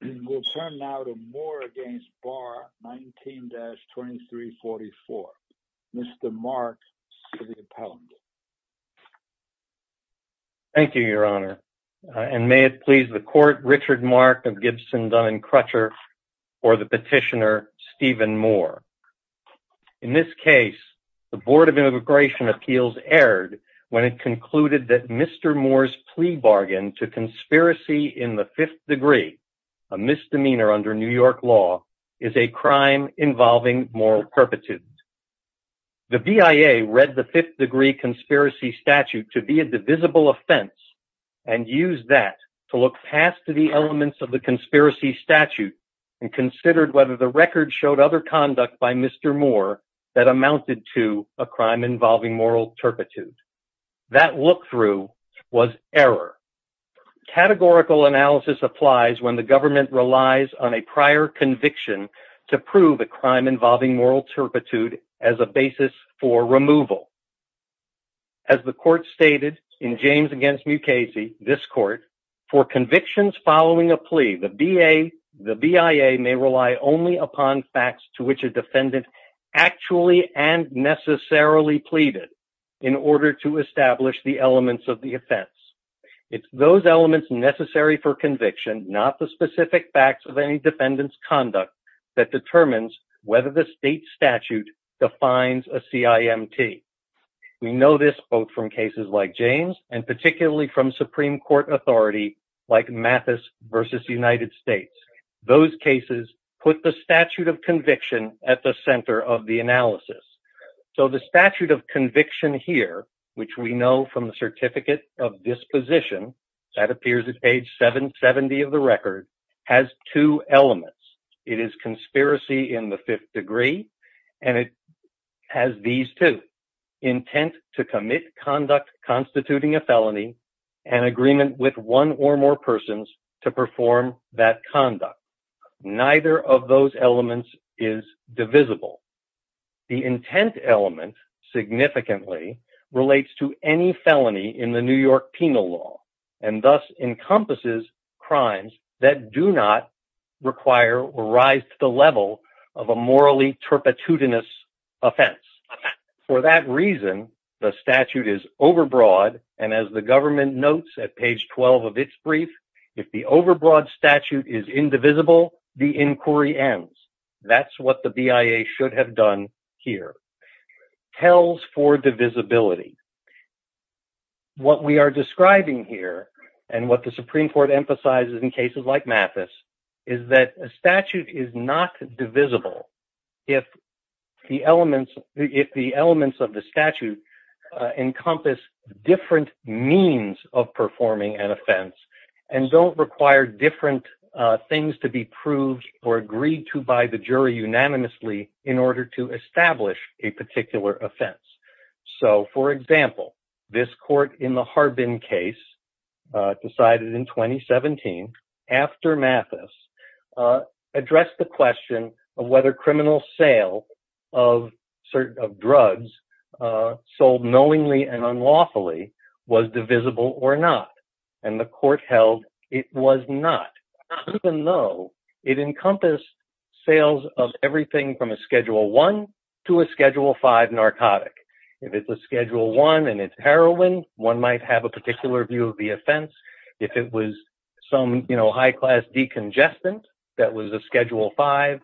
We'll turn now to Moore against Barr 19-2344, Mr. Mark Cillian-Pallender. Thank you, Your Honor. And may it please the Court, Richard Mark of Gibson, Dunn & Crutcher, for the petitioner Stephen Moore. In this case, the Board of Immigration Appeals erred when it concluded that Mr. Moore's plea a misdemeanor under New York law, is a crime involving moral turpitude. The BIA read the Fifth Degree Conspiracy Statute to be a divisible offense and used that to look past the elements of the conspiracy statute and considered whether the record showed other conduct by Mr. Moore that amounted to a crime involving moral turpitude. That look-through was error. Categorical analysis applies when the government relies on a prior conviction to prove a crime involving moral turpitude as a basis for removal. As the Court stated in James v. Mukasey, this Court, for convictions following a plea, the BIA may rely only upon facts to which a defendant actually and necessarily pleaded in order to establish the elements of the offense. It's those elements necessary for conviction, not the specific facts of any defendant's conduct, that determines whether the state statute defines a CIMT. We know this both from cases like James and particularly from Supreme Court authority like Mathis v. United States. Those cases put the statute of conviction at the center of the analysis. So the statute of conviction here, which we know from the certificate of disposition that appears at page 770 of the record, has two elements. It is conspiracy in the fifth degree, and it has these two, intent to commit conduct constituting a felony and agreement with one or more persons to perform that conduct. Neither of those elements is divisible. The intent element significantly relates to any felony in the New York penal law and thus encompasses crimes that do not require or rise to the level of a morally turpitudinous offense. For that reason, the statute is overbroad, and as the government notes at page 12 of its brief, if the overbroad statute is indivisible, the inquiry ends. That's what the BIA should have done here. Tells for divisibility. What we are describing here and what the Supreme Court emphasizes in cases like Mathis is that a statute is not divisible if the elements of the statute encompass different means of performing an offense and don't require different things to be proved or by the jury unanimously in order to establish a particular offense. So, for example, this court in the Harbin case decided in 2017, after Mathis, addressed the question of whether criminal sale of drugs sold knowingly and unlawfully was divisible or not, and the court held it was not, even though it encompassed sales of everything from a Schedule I to a Schedule V narcotic. If it's a Schedule I and it's heroin, one might have a particular view of the offense. If it was some high-class decongestant that was a Schedule V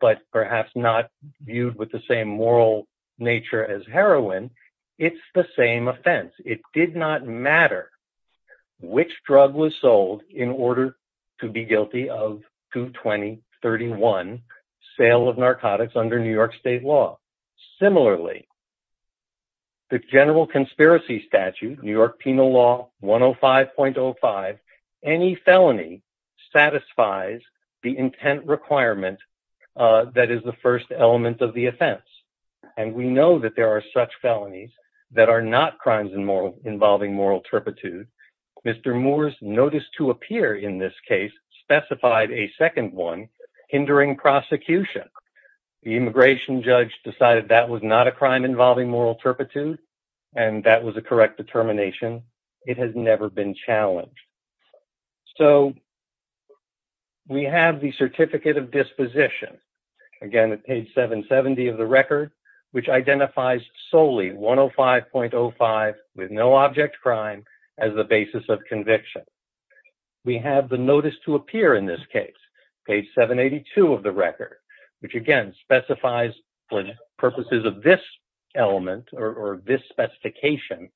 but perhaps not viewed with the same moral nature as heroin, it's the same offense. It did not matter which drug was sold in order to be guilty of 22031, sale of narcotics under New York State law. Similarly, the general conspiracy statute, New York Penal Law 105.05, any felony satisfies the intent requirement that is the first element of the offense, and we know that there are such felonies that are not crimes involving moral turpitude. Mr. Moore's notice to appear in this case specified a second one, hindering prosecution. The immigration judge decided that was not a crime involving moral turpitude, and that was a correct determination. It has never been challenged. So we have the certificate of disposition, again at page 770 of the record, which identifies solely 105.05 with no object crime as the basis of conviction. We have the notice to appear in this case, page 782 of the record, which again specifies for purposes of this element or this specification,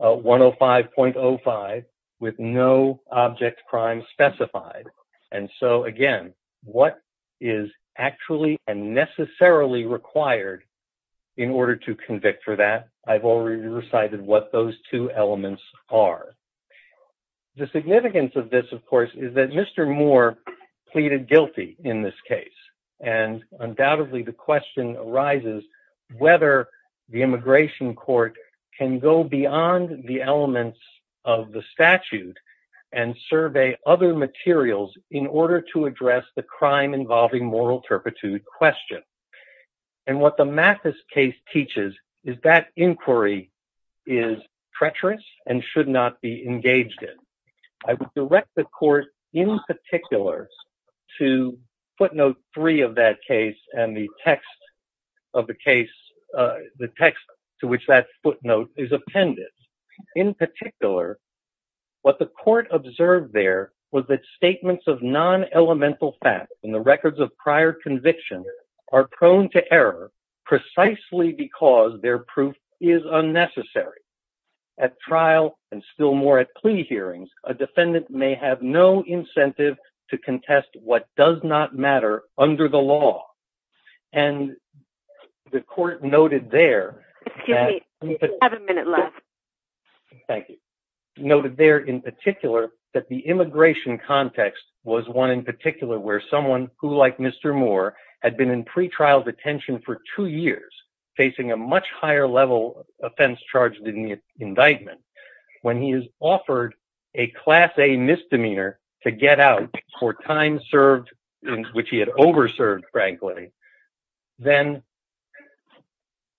105.05 with no object crime specified. And so, again, what is actually and necessarily required in order to convict for that, I've already recited what those two elements are. The significance of this, of course, is that Mr. Moore pleaded guilty in this case, and undoubtedly the question arises whether the immigration court can go beyond the elements of the statute and survey other materials in order to address the crime involving moral turpitude question. And what the Mathis case teaches is that inquiry is treacherous and should not be engaged in. I would direct the court in particular to footnote three of that case and the text of the case, the text to which that footnote is appended. In particular, what the court observed there was that statements of non-elemental facts in the records of prior conviction are prone to error precisely because their proof is unnecessary. At trial and still more at plea hearings, a defendant may have no incentive to contest what does not matter under the law. And the court noted there that... Excuse me, you have a minute left. Thank you. Noted there in particular that the immigration context was one in particular where someone who, like Mr. Moore, had been in pretrial detention for two years, facing a much higher level offense charge than the indictment, when he is offered a Class A misdemeanor to get out for time served, which he had over-served, frankly, then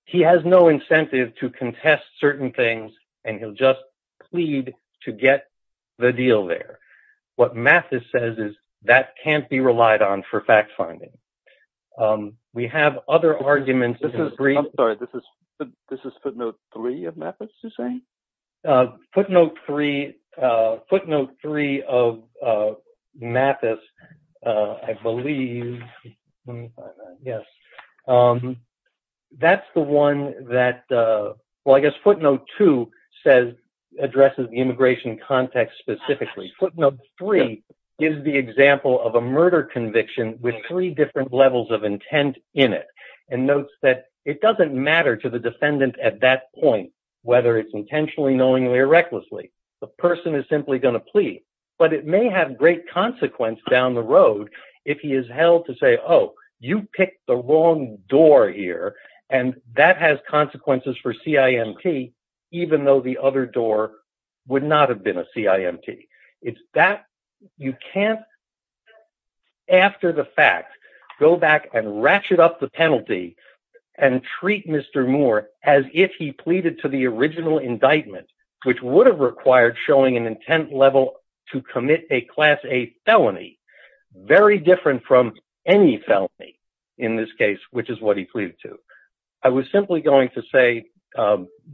he has no incentive to contest certain things and he'll just plead to get the deal there. What Mathis says is that can't be relied on for fact-finding. We have other arguments... I'm sorry, this is footnote three of Mathis, you're saying? Footnote three of Mathis, I believe... Let me find that, yes. That's the one that... Well, I guess footnote two addresses the immigration context specifically. Footnote three gives the example of a murder conviction with three different levels of intent in it and notes that it doesn't matter to the defendant at that point whether it's intentionally, knowingly, or recklessly, the person is simply going to plead. But it may have great consequence down the road if he is held to say, oh, you picked the wrong door here and that has consequences for CIMT, even though the other door would not have been a CIMT. You can't, after the fact, go back and ratchet up the penalty and treat Mr. Moore as if he committed a criminal indictment, which would have required showing an intent level to commit a class A felony, very different from any felony in this case, which is what he pleaded to. I was simply going to say,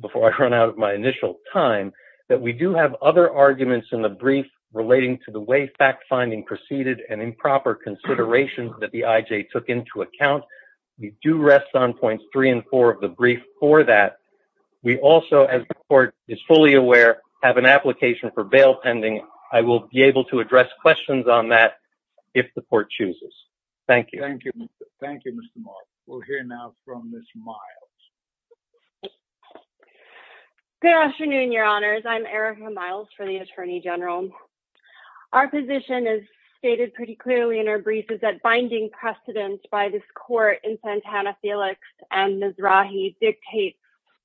before I run out of my initial time, that we do have other arguments in the brief relating to the way fact-finding preceded and improper considerations that the IJ took into account. We do rest on points three and four of the brief for that. We also, as the court is fully aware, have an application for bail pending. I will be able to address questions on that if the court chooses. Thank you. Thank you, Mr. Moore. We'll hear now from Ms. Miles. Good afternoon, Your Honors. I'm Erica Miles for the Attorney General. Our position is stated pretty clearly in our brief is that binding precedence by this court in Santana-Felix and Mizrahi dictates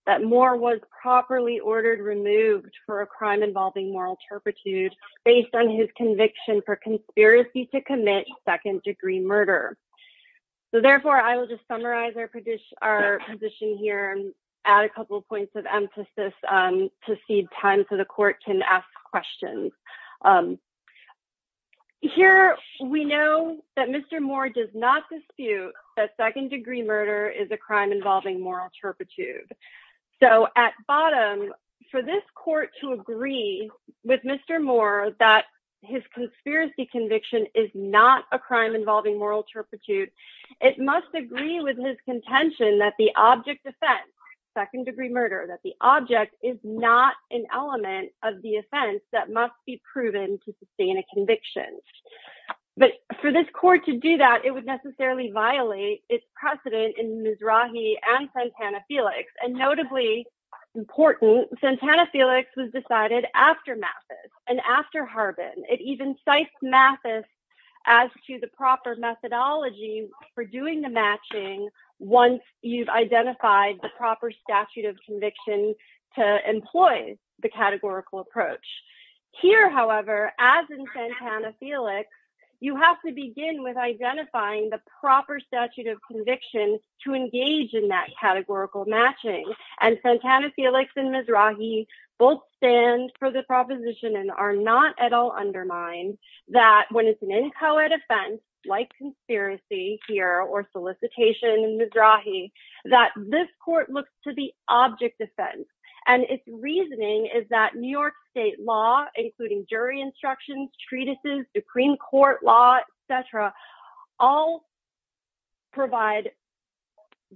that Moore was properly ordered removed for a crime involving moral turpitude based on his conviction for conspiracy to commit second-degree murder. So, therefore, I will just summarize our position here and add a couple points of emphasis to cede time so the court can ask questions. Here, we know that Mr. Moore does not dispute that second-degree murder is a crime involving moral turpitude. So, at bottom, for this court to agree with Mr. Moore that his conspiracy conviction is not a crime involving moral turpitude, it must agree with his contention that the object offense, second-degree murder, that the object is not an element of the offense that must be proven to sustain a conviction. But for this court to do that, it would necessarily violate its precedent in Mizrahi and Santana-Felix. And notably important, Santana-Felix was decided after Mathis and after Harbin. It even cites Mathis as to the proper methodology for doing the matching once you've identified the proper statute of conviction to employ the categorical approach. Here, however, as in Santana-Felix, you have to begin with identifying the proper statute of conviction to engage in that categorical matching. And Santana-Felix and Mizrahi both stand for the proposition and are not at all undermined that when it's an inchoate offense, like conspiracy here or solicitation in Mizrahi, that this court looks to the object offense. And its reasoning is that New York state law, including jury instructions, treatises, Supreme Court law, et cetera, all provide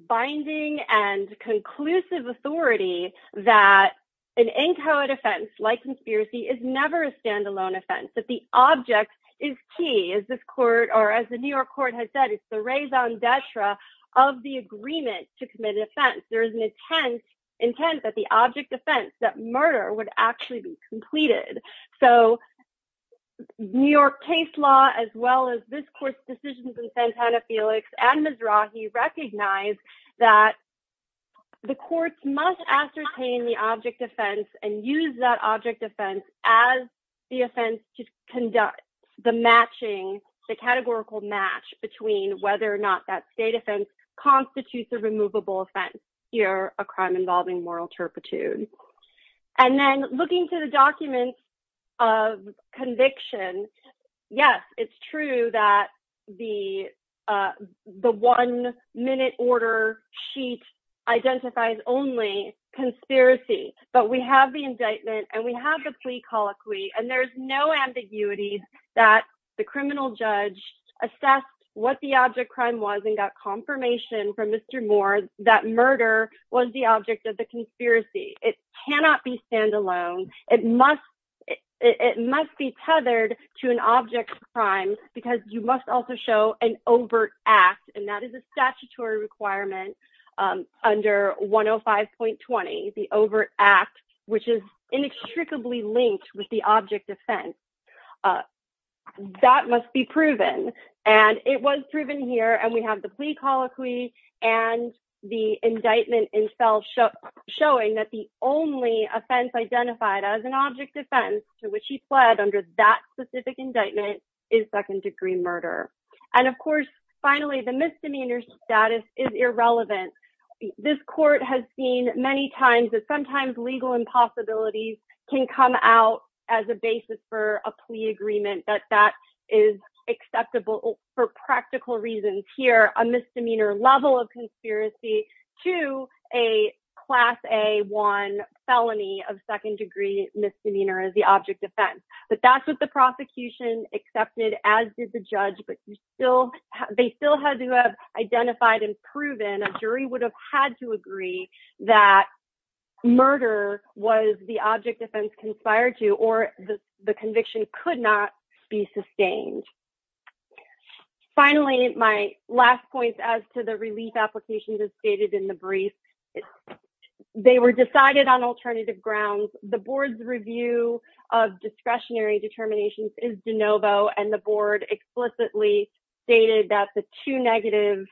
binding and conclusive authority that an inchoate offense, like conspiracy, is never a standalone offense. That the object is key. As the New York court has said, it's the raison d'etre of the agreement to commit an offense. There is an intent that the object offense, that murder, would actually be completed. So New York case law, as well as this court's decisions in Santana-Felix and Mizrahi, recognize that the courts must ascertain the object offense and use that object offense as the offense to conduct the matching, the categorical match between whether or not that is a removable offense or a crime involving moral turpitude. And then looking to the documents of conviction, yes, it's true that the one minute order sheet identifies only conspiracy. But we have the indictment and we have the plea colloquy and there's no ambiguity that the criminal judge assessed what the object crime was and got confirmation from Mr. Moore that murder was the object of the conspiracy. It cannot be standalone. It must be tethered to an object crime because you must also show an overt act. And that is a statutory requirement under 105.20, the overt act, which is inextricably linked with the object offense. That must be proven. And it was proven here and we have the plea colloquy and the indictment itself showing that the only offense identified as an object offense to which he pled under that specific indictment is second degree murder. And of course, finally, the misdemeanor status is irrelevant. This court has seen many times that sometimes legal impossibilities can come out as a basis for a plea agreement that that is acceptable for practical reasons. Here, a misdemeanor level of conspiracy to a class A1 felony of second degree misdemeanor is the object offense. But that's what the prosecution accepted as did the judge. And a jury would have had to agree that murder was the object offense conspired to or the conviction could not be sustained. Finally, my last point as to the relief applications as stated in the brief, they were decided on alternative grounds. The board's review of discretionary determinations is de novo and the board explicitly stated that the two negative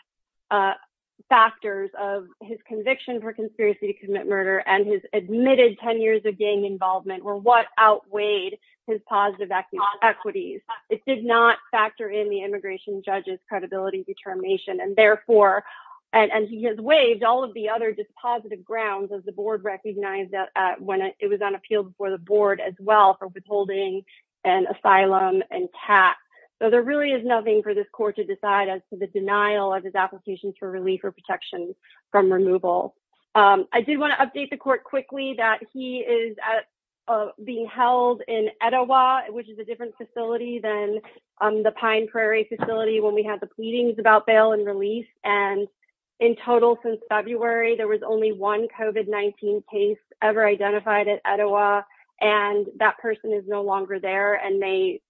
factors of his conviction for conspiracy to commit murder and his admitted 10 years of gang involvement were what outweighed his positive equities. It did not factor in the immigration judge's credibility determination. And therefore, and he has waived all of the other dispositive grounds of the board recognized when it was on appeal before the board as well for withholding and asylum and tax. So there really is nothing for this court to decide as to the denial of his application for relief or protection from removal. I do want to update the court quickly that he is being held in Etowah, which is a different facility than the Pine Prairie facility when we had the pleadings about bail and release. And in total, since February, there was only one COVID-19 case ever identified at Etowah. And that person is no longer there. And they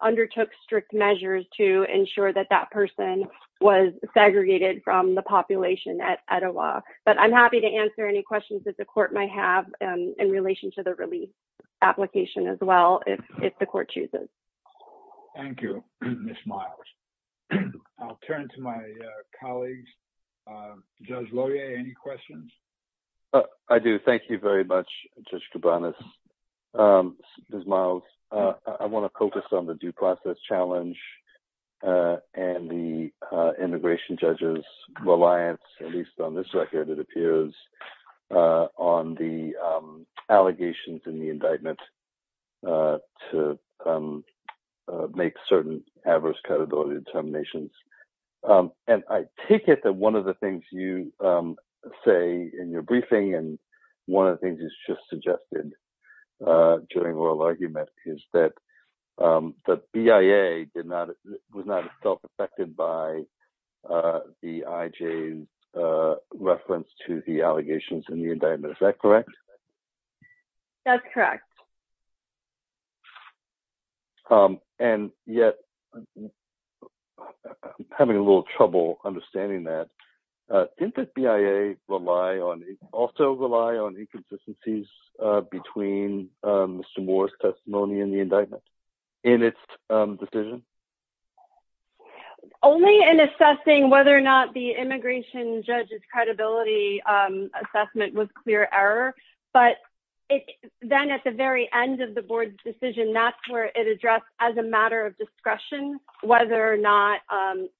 undertook strict measures to ensure that that person was segregated from the population at Etowah. But I'm happy to answer any questions that the court might have in relation to the release application as well if the court chooses. Thank you, Ms. Miles. I'll turn to my colleagues. Judge Laurier, any questions? I do. Thank you very much, Judge Cabanas. Ms. Miles, I want to focus on the due process challenge and the immigration judge's reliance, at least on this record, it appears, on the allegations in the indictment to make certain adverse categorical determinations. And I take it that one of the things you say in your briefing and one of the things you just suggested during oral argument is that the BIA was not as self-affected by the IJ's reference to the allegations in the indictment. Is that correct? That's correct. And yet, I'm having a little trouble understanding that. Didn't the BIA also rely on inconsistencies between Mr. Moore's testimony and the indictment in its decision? Only in assessing whether or not the immigration judge's credibility assessment was clear error. But then at the very end of the board's decision, that's where it addressed as a matter of discretion whether or not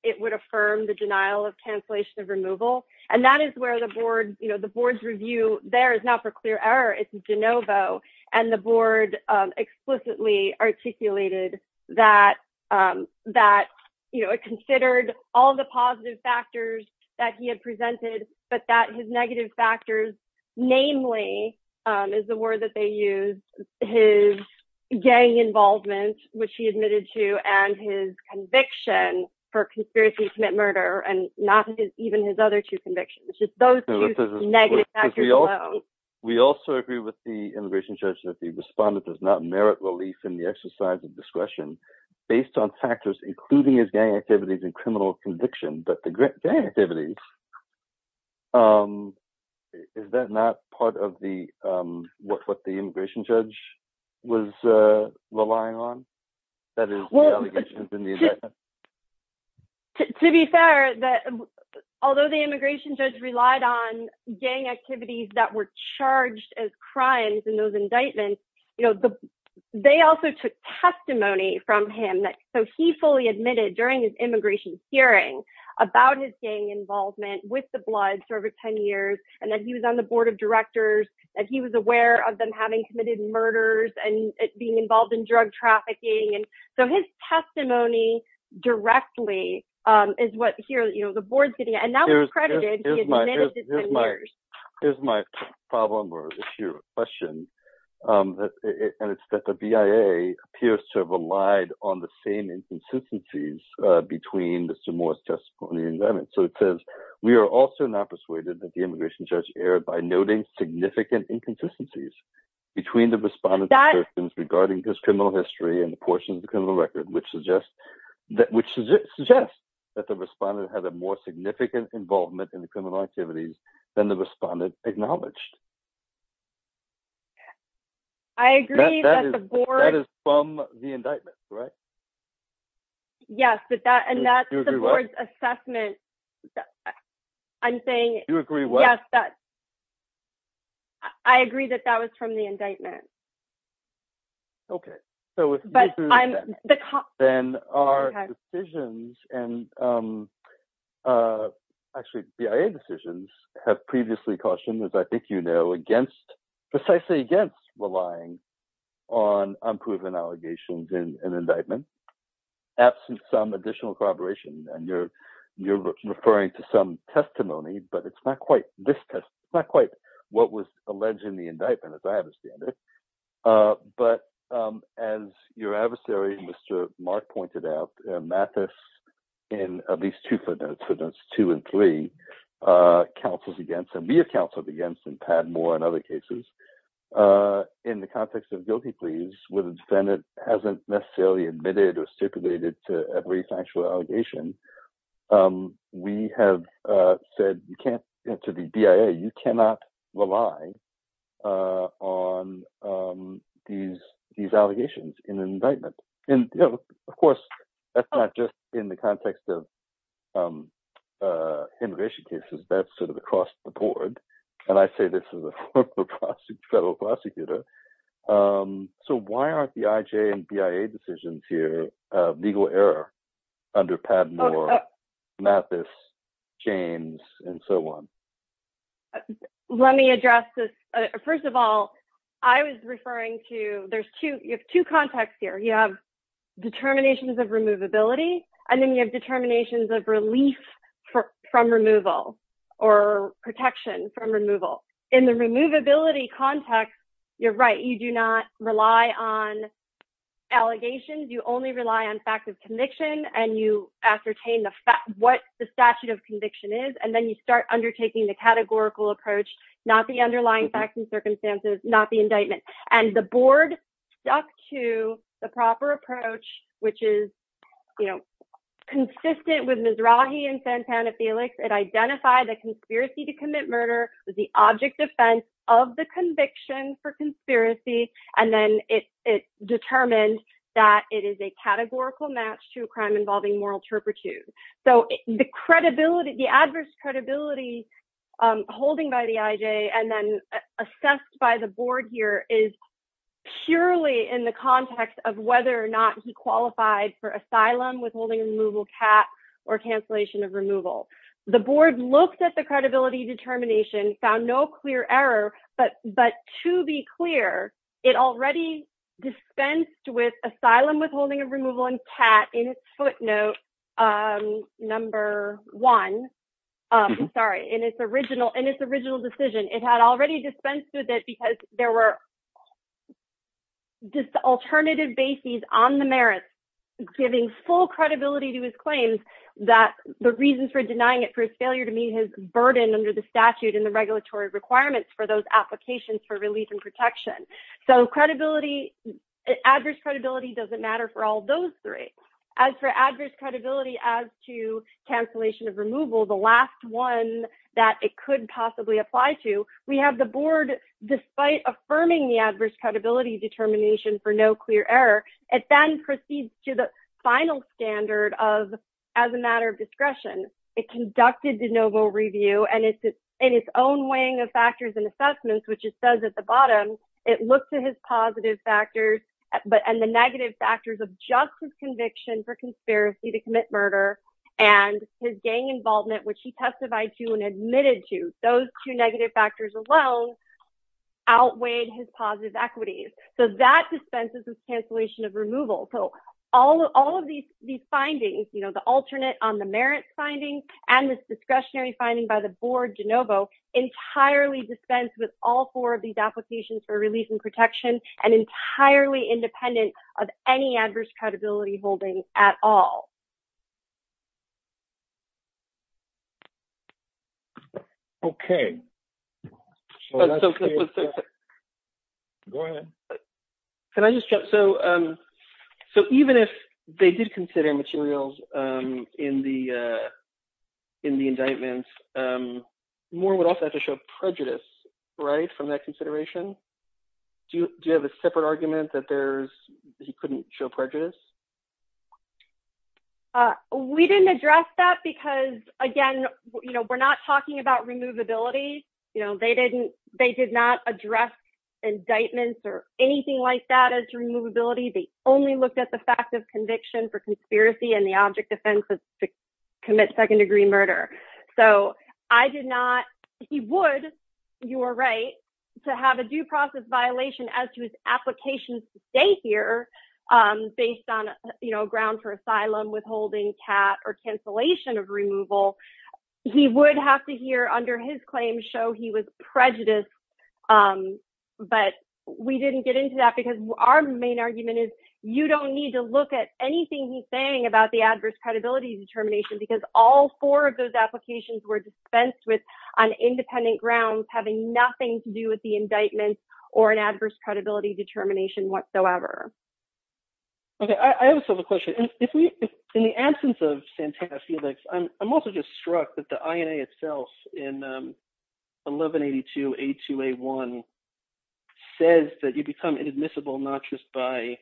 it would affirm the denial of cancellation of removal. And that is where the board's review there is not for clear error. It's de novo. And the board explicitly articulated that it considered all the positive factors that he had presented but that his negative factors, namely, is the word that they used, his gang involvement, which he admitted to, and his conviction for conspiracy to commit murder and not even his other two convictions. Just those two negative factors alone. We also agree with the immigration judge that the respondent does not merit relief in the exercise of discretion based on factors including his gang activities and criminal conviction. But the gang activities, is that not part of what the immigration judge was relying on? To be fair, although the immigration judge relied on gang activities that were charged as crimes in those indictments, they also took testimony from him. So he fully admitted during his immigration hearing about his gang involvement with the Bloods for over 10 years. And that he was on the board of directors. That he was aware of them having committed murders and being involved in drug trafficking. So his testimony directly is what the board's getting at. And that was credited. He admitted to 10 years. Here's my problem, or if you have a question. And it's that the BIA appears to have relied on the same inconsistencies between Mr. Moore's testimony and the indictment. So it says, we are also not persuaded that the immigration judge erred by noting significant inconsistencies between the respondent's assertions regarding his criminal history and the portion of the criminal record, which suggests that the respondent had a more significant involvement in the criminal activities than the respondent acknowledged. I agree that the board... That is from the indictment, right? Yes, and that's the board's assessment. I'm saying... You agree what? Yes, that... I agree that that was from the indictment. Okay. But I'm... Then our decisions, and actually BIA decisions, have previously cautioned, as I think you know, precisely against relying on unproven allegations in an indictment, absent some additional corroboration. And you're referring to some testimony, but it's not quite this testimony. It's not quite what was alleged in the indictment, as I understand it. But as your adversary, Mr. Mark, pointed out, Mathis, in at least two footnotes, footnotes two and three, counseled against, and we have counseled against in Padmore and other cases, in the context of guilty pleas, where the defendant hasn't necessarily admitted or stipulated to every factual allegation, we have said, you can't answer the BIA. You cannot rely on these allegations in an indictment. And of course, that's not just in the context of immigration cases. That's sort of across the board. And I say this as a former federal prosecutor. So why aren't the IJ and BIA decisions here legal error under Padmore, Mathis, James, and so on? Let me address this. First of all, I was referring to, you have two contexts here. You have determinations of removability, and then you have determinations of relief from removal or protection from removal. In the removability context, you're right. You do not rely on allegations. You only rely on fact of conviction. And you ascertain what the statute of conviction is. And then you start undertaking the categorical approach, not the underlying facts and circumstances, not the indictment. And the board stuck to the proper approach, which is consistent with Mizrahi and Santana-Felix. It identified the conspiracy to commit murder as the object defense of the conviction for conspiracy. And then it determined that it is a categorical match to a crime involving moral turpitude. So the credibility, the adverse credibility holding by the IJ and then assessed by the board here is purely in the context of whether or not he qualified for asylum, withholding removal, CAT, or cancellation of removal. The board looked at the credibility determination, found no clear error, but to be clear, it had already dispensed with it because there were alternative bases on the merits, giving full credibility to his claims that the reasons for denying it for his failure to meet his burden under the statute and the regulatory requirements for those applications for relief and protection. So credibility, adverse credibility doesn't matter for all those three. As for adverse credibility as to cancellation of removal, the last one that it could possibly apply to, we have the board, despite affirming the adverse credibility determination for no clear error, it then proceeds to the final standard of as a matter of discretion. It conducted de novo review and in its own weighing of factors and assessments, which it says at the bottom, it looks at his positive factors and the negative factors of justice conviction for conspiracy to commit murder and his gang involvement, which he testified to and admitted to. Those two negative factors alone outweighed his positive equities. So that dispenses with cancellation of removal. So all of these findings, the alternate on the merits findings and this discretionary finding by the board de novo, entirely dispensed with all four of these applications for release and protection and entirely independent of any adverse credibility holding at all. Okay. Go ahead. Can I just jump? So even if they did consider materials in the indictment, Moore would also have to show prejudice, right? From that consideration, do you, do you have a separate argument that there's, he couldn't show prejudice? Uh, we didn't address that because again, you know, we're not talking about removability, you know, they didn't, they did not address indictments or anything like that as removability. They only looked at the fact of conviction for conspiracy and the object defense is to commit second degree murder. So I did not, he would, you were right to have a due process violation as to his applications to stay here, um, based on, you know, ground for asylum withholding cat or cancellation of removal. He would have to hear under his claims show he was prejudiced. Um, but we didn't get into that because our main argument is you don't need to look at anything he's saying about the adverse credibility determination because all four of those applications were dispensed with on independent grounds having nothing to do with the indictment or an adverse credibility determination whatsoever. Okay. I also have a question. If we, in the absence of Santana Felix, I'm, I'm also just struck that the INA itself in, um, 1182A2A1 says that you become inadmissible not just by,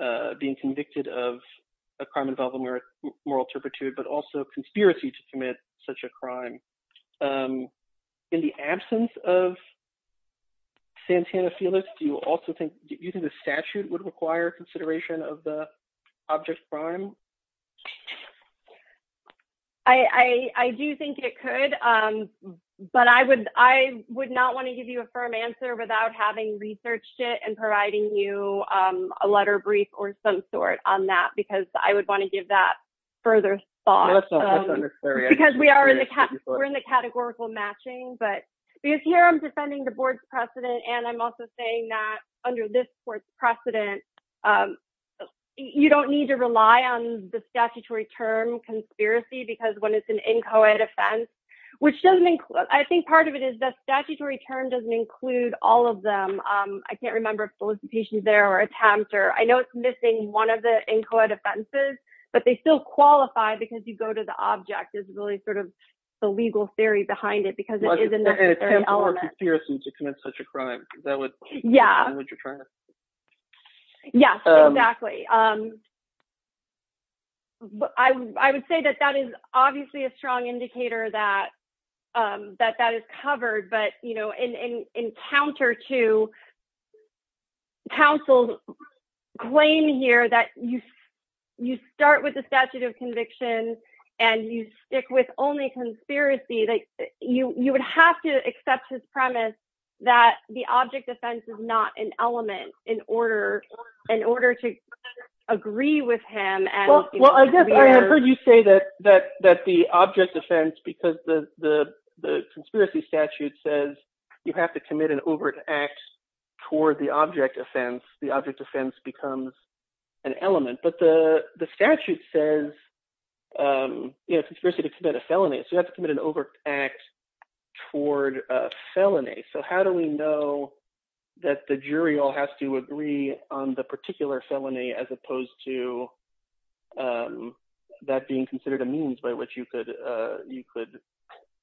uh, being convicted of a crime involving moral turpitude, but also conspiracy to commit such a crime. Um, in the absence of Santana Felix, do you also think you think the statute would require consideration of the object crime? I, I do think it could, um, but I would, I would not want to give you a firm answer without having researched it and providing you, um, a letter brief or some sort on that because I would want to give that further thought because we are in the, we're in the categorical matching, but because here I'm defending the board's precedent and I'm also saying that under this court's precedent, um, you don't need to rely on the statutory term conspiracy because when it's an inchoate offense, which doesn't include, I think part of it is the statutory term doesn't include all of them. Um, I can't remember if solicitation is there or attempt or I know it's missing one of the inchoate offenses, but they still qualify because you go to the object is really sort of the legal theory behind it because it is an element. Yeah. Yeah, exactly. Um, I would, I would say that that is obviously a strong indicator that, um, that that is you start with the statute of convictions and you stick with only conspiracy that you, you would have to accept his premise that the object defense is not an element in order in order to agree with him. Well, I guess I have heard you say that, that, that the object defense, because the, the, the conspiracy statute says you have to commit an overt act toward the object offense. The object defense becomes an element, but the statute says, um, you know, conspiracy to commit a felony. So you have to commit an overt act toward a felony. So how do we know that the jury all has to agree on the particular felony as opposed to, um, that being considered a means by which you could, uh, you could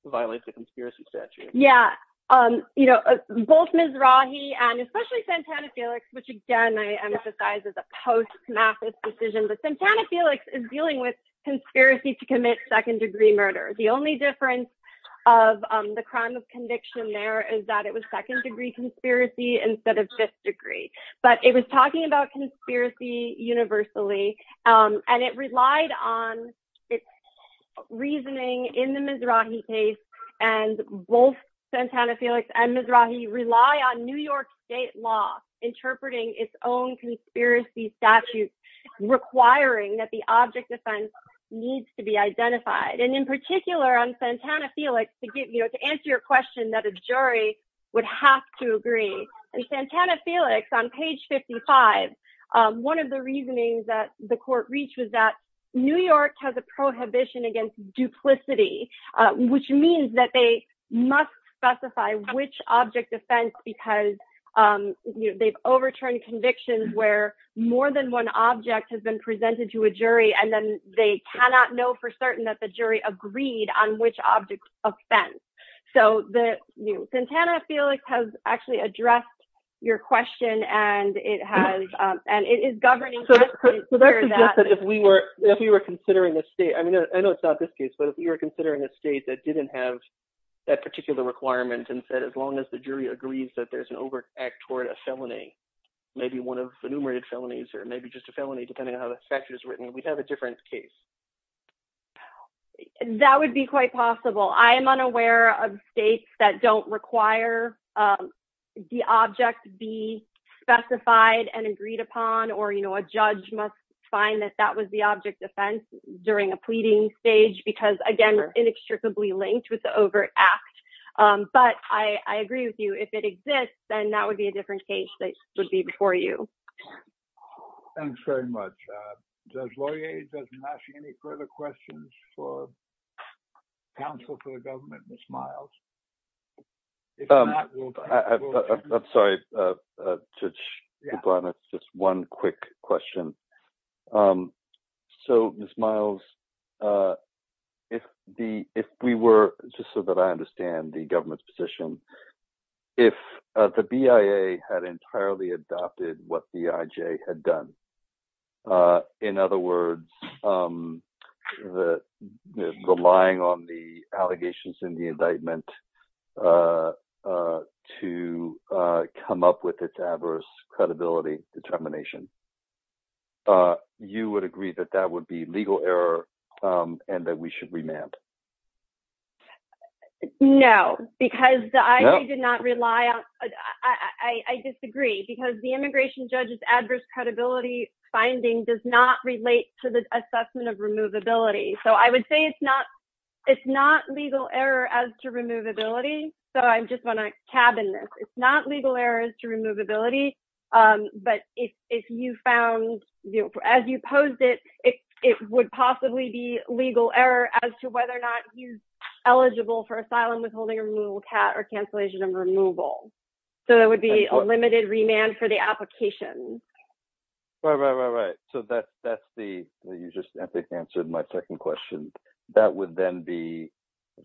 violate the conspiracy statute. Yeah. Um, you know, both Ms. Rahi and especially Santana Felix, which again, I emphasize is a post-Mathis decision, but Santana Felix is dealing with conspiracy to commit second degree murder. The only difference of, um, the crime of conviction there is that it was second degree conspiracy instead of fifth degree, but it was talking about conspiracy universally. Um, and it relied on its reasoning in the Ms. Rahi case and both Santana Felix and Ms. Rahi rely on New York state law interpreting its own conspiracy statute requiring that the object defense needs to be identified. And in particular on Santana Felix to get, you know, to answer your question that a jury would have to agree. And Santana Felix on page 55, um, one of the reasonings that the court reached was that New York has a prohibition against duplicity, uh, which means that they must specify which object defense because, um, you know, they've overturned convictions where more than one object has been presented to a jury and then they cannot know for certain that the jury agreed on which object offense. So the, you know, Santana Felix has actually addressed your question and it has, um, and it is governing. If we were, if we were considering a state, I mean, I know it's not this case, but if you were considering a state that didn't have that particular requirement and said, as long as the jury agrees that there's an over act toward a felony, maybe one of the numerated felonies, or maybe just a felony, depending on how the statute is written, we'd have a different case. That would be quite possible. I am unaware of states that don't require, um, the object be specified and agreed upon or, you know, a judge must find that that was the object defense during a pleading stage because again, we're inextricably linked with the over act. Um, but I, I agree with you if it exists, then that would be a different case that would be before you. Thanks very much. Uh, does Laurier doesn't ask you any further questions for counsel for the government, Ms. Miles? Um, I'm sorry, uh, uh, just one quick question. Um, so Ms. Miles, uh, if the, if we were, just so that I understand the government's position, if the BIA had entirely adopted what BIJ had done, uh, in other words, um, the relying on the allegations in the indictment, uh, uh, to, uh, come up with its adverse credibility determination, uh, you would agree that that would be legal error, um, and that we should remand? No, because I did not rely on, I disagree because the immigration judge's adverse credibility finding does not relate to the assessment of removability. So I would say it's not, it's not legal error as to removability. So I'm just going to tab in this. It's not legal errors to removability. Um, but if, if you found, as you posed it, it, it would possibly be legal error as to whether or not he's eligible for asylum withholding removal cat or cancellation of removal. So there would be a limited remand for the application. Right, right, right, right. So that's, that's the, you just answered my second question. That would then be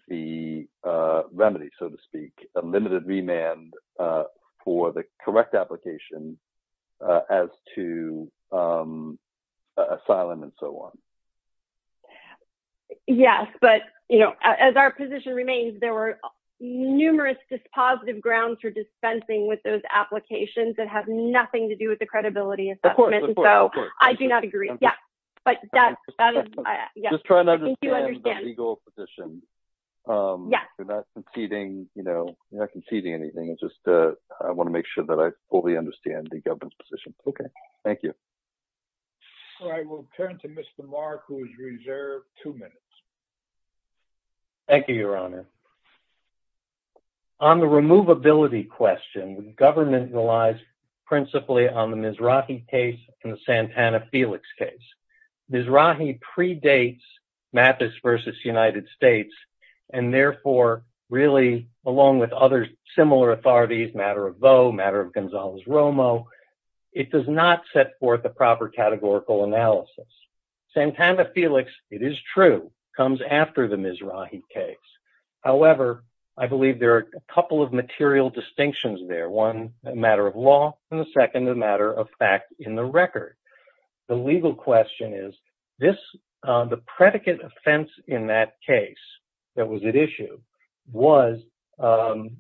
the, uh, remedy, so to speak, a limited remand, uh, for the correct application, uh, as to, um, asylum and so on. Yes. But, you know, as our position remains, there were numerous dispositive grounds for dispensing with those applications that have nothing to do with the credibility assessment. So I do not agree. Yeah. But that's, that is, I think you understand. I'm just trying to understand the legal position. Um, you're not conceding, you know, you're not conceding anything. It's just, uh, I want to make sure that I fully understand the government's position. Okay. Thank you. All right. We'll turn to Mr. Mark, who is reserved two minutes. Thank you, Your Honor. On the removability question, the government relies principally on the Mizrahi case and the Santana-Felix case. Mizrahi predates Mathis v. United States and therefore really, along with other similar authorities, Matter of Vaux, Matter of Gonzales-Romo, it does not set forth a proper categorical analysis. Santana-Felix, it is true, comes after the Mizrahi case. However, I believe there are a couple of material distinctions there. One, a matter of law, and the second, a matter of fact in the record. The legal question is, this, uh, the predicate offense in that case that was at issue was, um,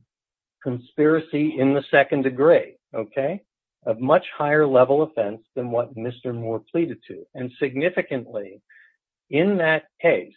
conspiracy in the second degree. Okay? A much higher level offense than what Mr. Moore pleaded to. And significantly, in that case,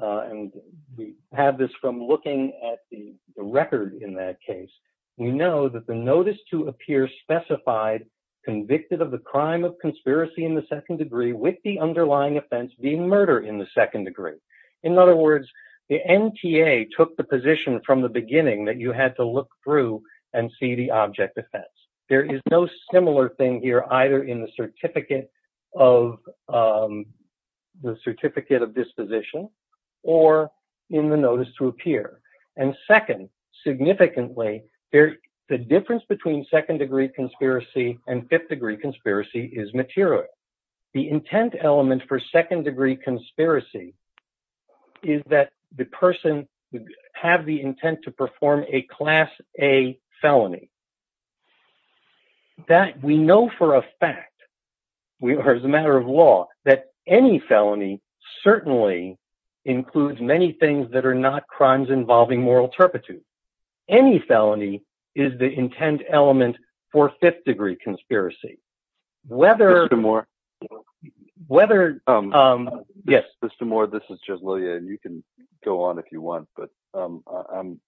uh, and we have this from looking at the record in that case, we know that the notice to appear specified convicted of the crime of conspiracy in the second degree with the underlying offense being murder in the second degree. In other words, the NTA took the position from the beginning that you had to look through and see the object defense. There is no similar thing here, either in the certificate of, um, the certificate of disposition or in the notice to appear. And second, significantly, the difference between second degree conspiracy and fifth degree conspiracy is material. The intent element for second degree conspiracy is that the person would have the intent to perform a class A felony. That we know for a fact, or as a matter of law, that any felony certainly includes many things that are not crimes involving moral turpitude. Any felony is the intent element for fifth degree conspiracy. Whether- Mr. Moore. Whether, um, yes. Mr. Moore, this is Jeff Lillian. You can go on if you want, but, um, I'm,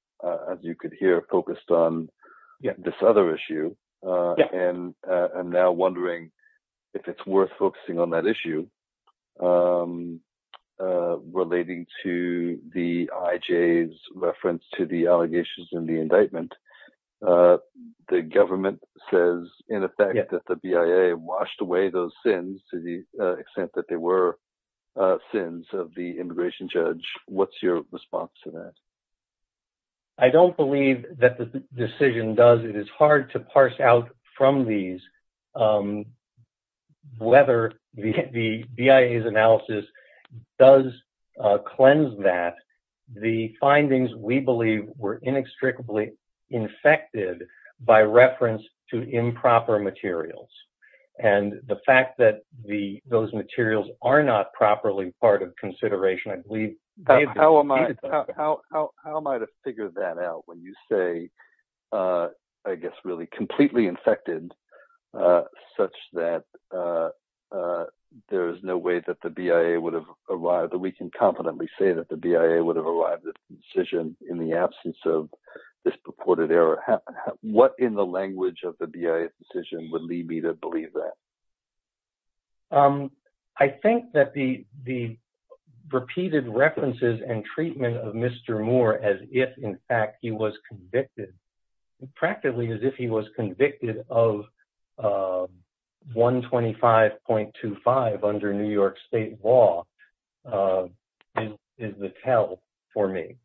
as you could hear, focused on this other issue. Yeah. And I'm now wondering if it's worth focusing on that issue, um, relating to the IJ's reference to the allegations in the indictment. Uh, the government says, in effect, that the BIA washed away those sins to the extent that they were, uh, sins of the immigration judge. What's your response to that? I don't believe that the decision does. It is hard to parse out from these, um, whether the BIA's analysis does, uh, cleanse that. The findings, we believe, were inextricably infected by reference to improper materials, and the fact that the, those materials are not properly part of consideration, I believe- How am I, how, how, how am I to figure that out when you say, uh, I guess really completely infected, uh, such that, uh, uh, there is no way that the BIA would have arrived, that we can confidently say that the BIA would have arrived at the decision in the absence of this purported error. What in the language of the BIA's decision would lead me to believe that? Um, I think that the, the repeated references and treatment of Mr. Moore as if, in fact, he was convicted, practically as if he was convicted of, uh, 125.25 under New York State law, uh, is, is the tell for me.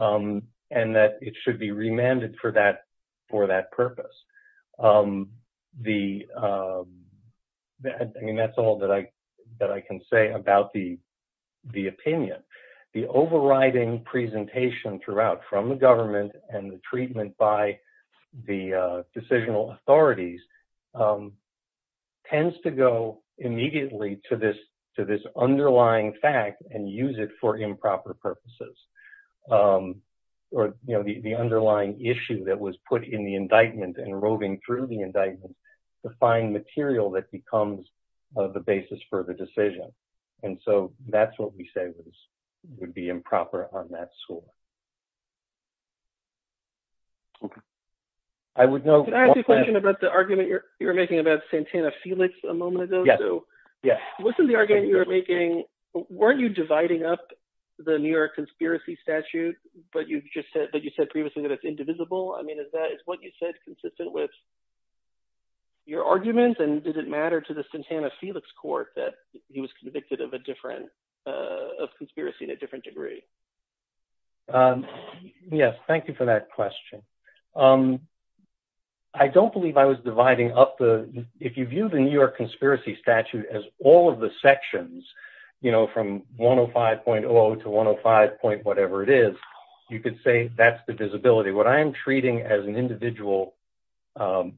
Um, and that it should be remanded for that, for that purpose. Um, the, um, that, I mean, that's all that I, that I can say about the, the opinion. The overriding presentation throughout from the government and the treatment by the, uh, decisional authorities, um, tends to go immediately to this, to this underlying fact and use it for improper purposes. Um, or, you know, the, the underlying issue that was put in the indictment and roving through the indictment to find material that becomes the basis for the decision. And so that's what we say was, would be improper on that school. Okay. I would know. Can I ask you a question about the argument you're making about Santana Felix a moment ago? Yes. Wasn't the argument you were making, weren't you dividing up the New York conspiracy statute, but you just said that you said previously that it's indivisible. I mean, is that, is what you said consistent with your arguments? And did it matter to the Santana Felix court that he was convicted of a different, uh, of conspiracy in a different degree? Um, yes. Thank you for that question. Um, I don't believe I was dividing up the, if you view the New York conspiracy statute as all of the sections, you know, from 105.0 to 105 point, whatever it is, you could say that's the disability. What I am treating as an individual, um,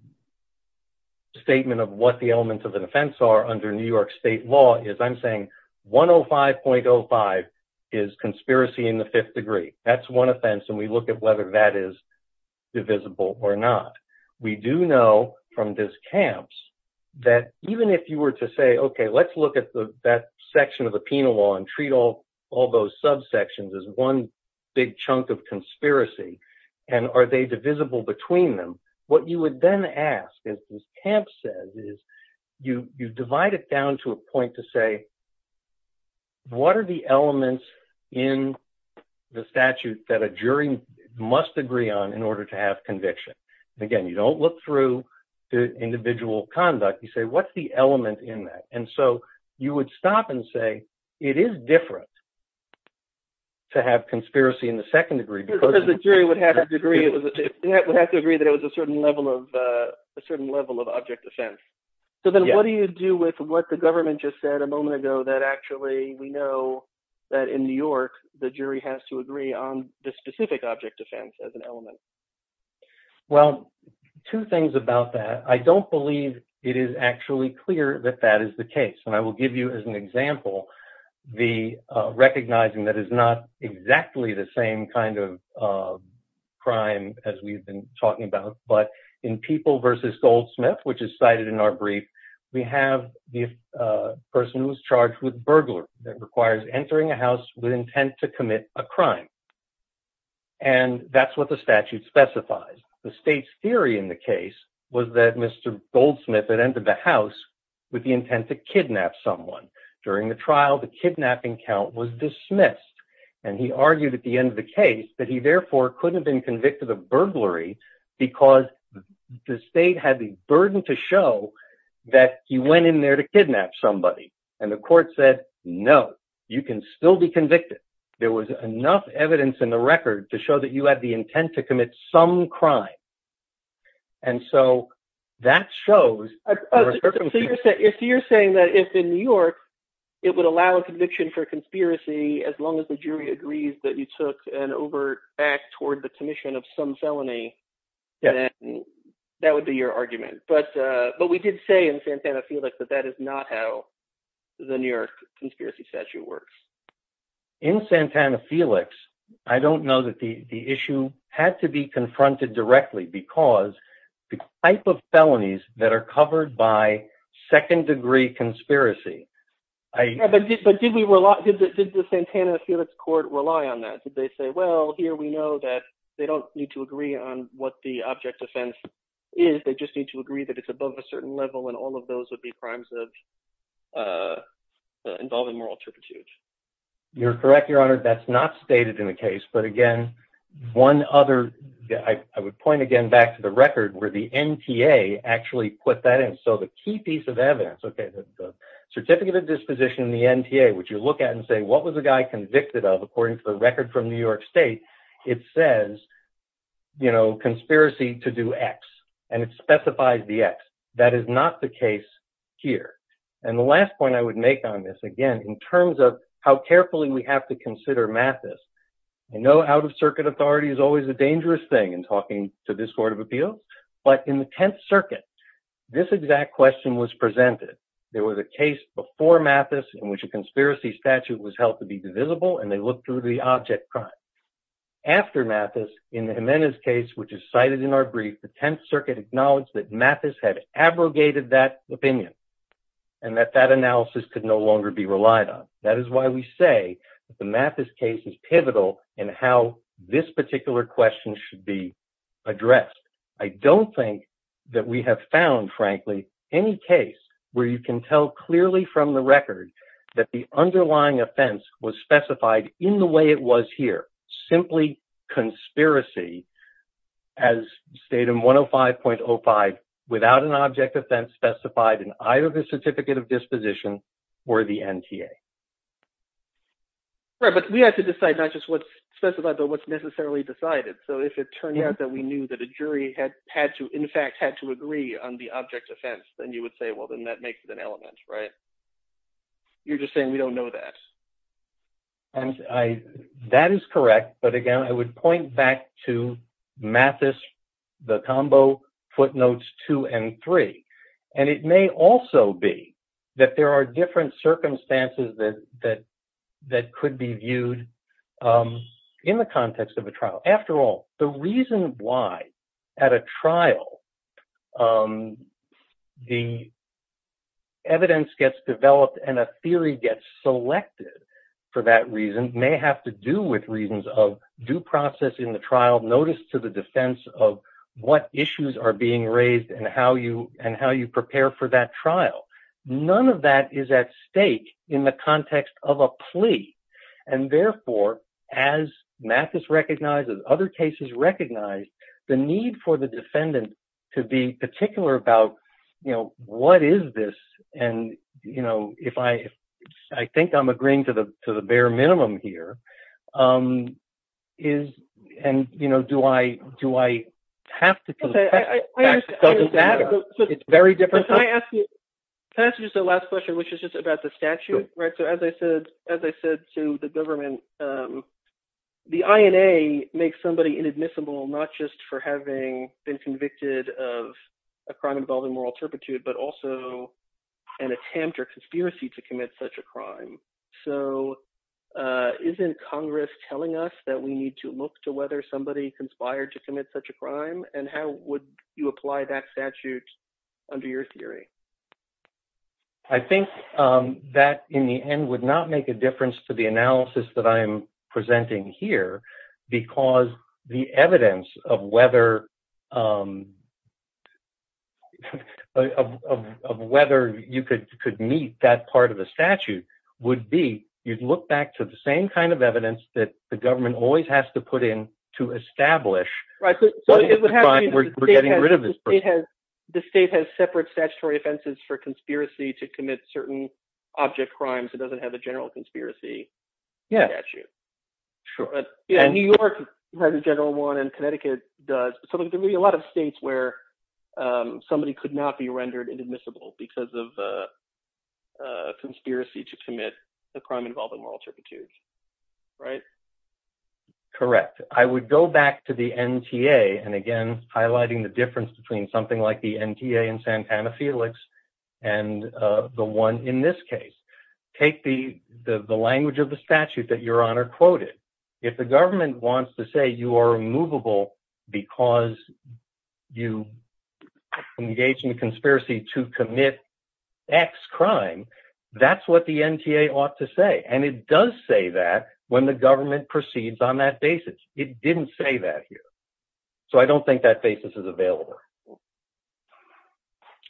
statement of what the elements of an offense are under New York state law is I'm saying 105.05 is conspiracy in the fifth degree. That's one offense. And we look at whether that is divisible or not. We do know from this camps that even if you were to say, okay, let's look at the, that section of the penal law and treat all, all those subsections as one big chunk of conspiracy. And are they divisible between them? What you would then ask is this camp says is you, you divide it down to a point to say, what are the elements in the statute that a jury must agree on in order to have conviction? And again, you don't look through the individual conduct. You say, what's the element in that? And so you would stop and say, it is different to have conspiracy in the second degree because the jury would have to agree that it was a certain level of, uh, a certain level of object offense. So then what do you do with what the government just said a moment ago that actually we know that in New York, the jury has to agree on the specific object defense as an element? Well, two things about that. I don't believe it is actually clear that that is the case. And I will give you as an example, the, uh, recognizing that is not exactly the same kind of, uh, crime as we've been talking about, but in people versus Goldsmith, which is cited in our brief, we have the, uh, person who was charged with burglary that requires entering a house with intent to commit a crime. And that's what the statute specifies. The state's theory in the case was that Mr. Goldsmith had entered the house with the intent to kidnap someone. During the trial, the kidnapping count was dismissed. And he argued at the end of the case that he therefore couldn't have been convicted of burglary because the state had the burden to show that he went in there to kidnap somebody and the court said, no, you can still be convicted. There was enough evidence in the record to show that you had the intent to commit some crime. And so that shows. So you're saying that if in New York, it would allow a conviction for conspiracy as long as the jury agrees that you took an overt act toward the commission of some type of felony, then that would be your argument. But, uh, but we did say in Santana Felix that that is not how the New York conspiracy statute works. In Santana Felix. I don't know that the issue had to be confronted directly because the type of felonies that are covered by second degree conspiracy. But did we rely, did the Santana Felix court rely on that? Did they say, well, here we know that they don't need to agree on what the object offense is. They just need to agree that it's above a certain level. And all of those would be crimes of, uh, involving moral turpitude. You're correct, Your Honor. That's not stated in the case. But again, one other, I would point again back to the record where the NTA actually put that in. So the key piece of evidence, OK, the certificate of disposition in the NTA, which you look at and say, what was the guy convicted of according to the record from New York state? You know, conspiracy to do X. And it specifies the X. That is not the case here. And the last point I would make on this, again, in terms of how carefully we have to consider Mathis. I know out of circuit authority is always a dangerous thing in talking to this court of appeal. But in the 10th circuit, this exact question was presented. There was a case before Mathis in which a conspiracy statute was held to be divisible. And they looked through the object crime. After Mathis, in the Jimenez case, which is cited in our brief, the 10th circuit acknowledged that Mathis had abrogated that opinion and that that analysis could no longer be relied on. That is why we say that the Mathis case is pivotal in how this particular question should be addressed. I don't think that we have found, frankly, any case where you can tell clearly from the record that the underlying offense was specified in the way it was here. Simply conspiracy, as stated in 105.05, without an object offense specified in either the certificate of disposition or the NTA. Right. But we have to decide not just what's specified, but what's necessarily decided. So if it turned out that we knew that a jury had to, in fact, had to agree on the object offense, then you would say, well, then that makes it an element. Right? You're just saying we don't know that. Yes. And that is correct. But again, I would point back to Mathis, the combo footnotes two and three. And it may also be that there are different circumstances that could be viewed in the context of a trial. After all, the reason why at a trial the evidence gets developed and a theory gets selected for that reason may have to do with reasons of due process in the trial. Notice to the defense of what issues are being raised and how you and how you prepare for that trial. None of that is at stake in the context of a plea. And therefore, as Mathis recognizes, other cases recognize the need for the defendant to be particular about, you know, what is this? And, you know, if I I think I'm agreeing to the to the bare minimum here is and, you know, do I do I have to do that? It's very different. I ask you the last question, which is just about the statute. Right. So as I said, as I said to the government, the INA makes somebody inadmissible, not just for having been convicted of a crime involving moral turpitude, but also an attempt or conspiracy to commit such a crime. So isn't Congress telling us that we need to look to whether somebody conspired to commit such a crime? And how would you apply that statute under your theory? I think that in the end would not make a difference to the analysis that I am presenting here because the evidence of whether of whether you could could meet that part of the statute would be you'd look back to the same kind of evidence that the government always has to put in to establish what it would have. We're getting rid of this. It has the state has separate statutory offenses for conspiracy to commit certain object crimes. It doesn't have a general conspiracy. Yeah. Sure. But New York has a general one and Connecticut does. So there may be a lot of states where somebody could not be rendered inadmissible because of a conspiracy to commit a crime involving moral turpitude. Right. Correct. I would go back to the NTA and again highlighting the difference between something like the NTA and Santana Felix and the one in this case. Take the the language of the statute that your honor quoted. If the government wants to say you are movable because you engage in conspiracy to commit X crime. That's what the NTA ought to say. And it does say that when the government proceeds on that basis. It didn't say that here. So I don't think that basis is available.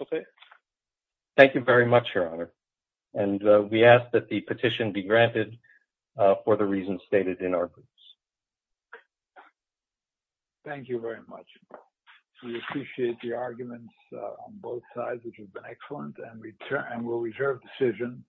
OK. Thank you very much your honor. And we ask that the petition be granted for the reasons stated in this case. Thank you very much. We appreciate the arguments on both sides, which has been excellent and return and will reserve decision.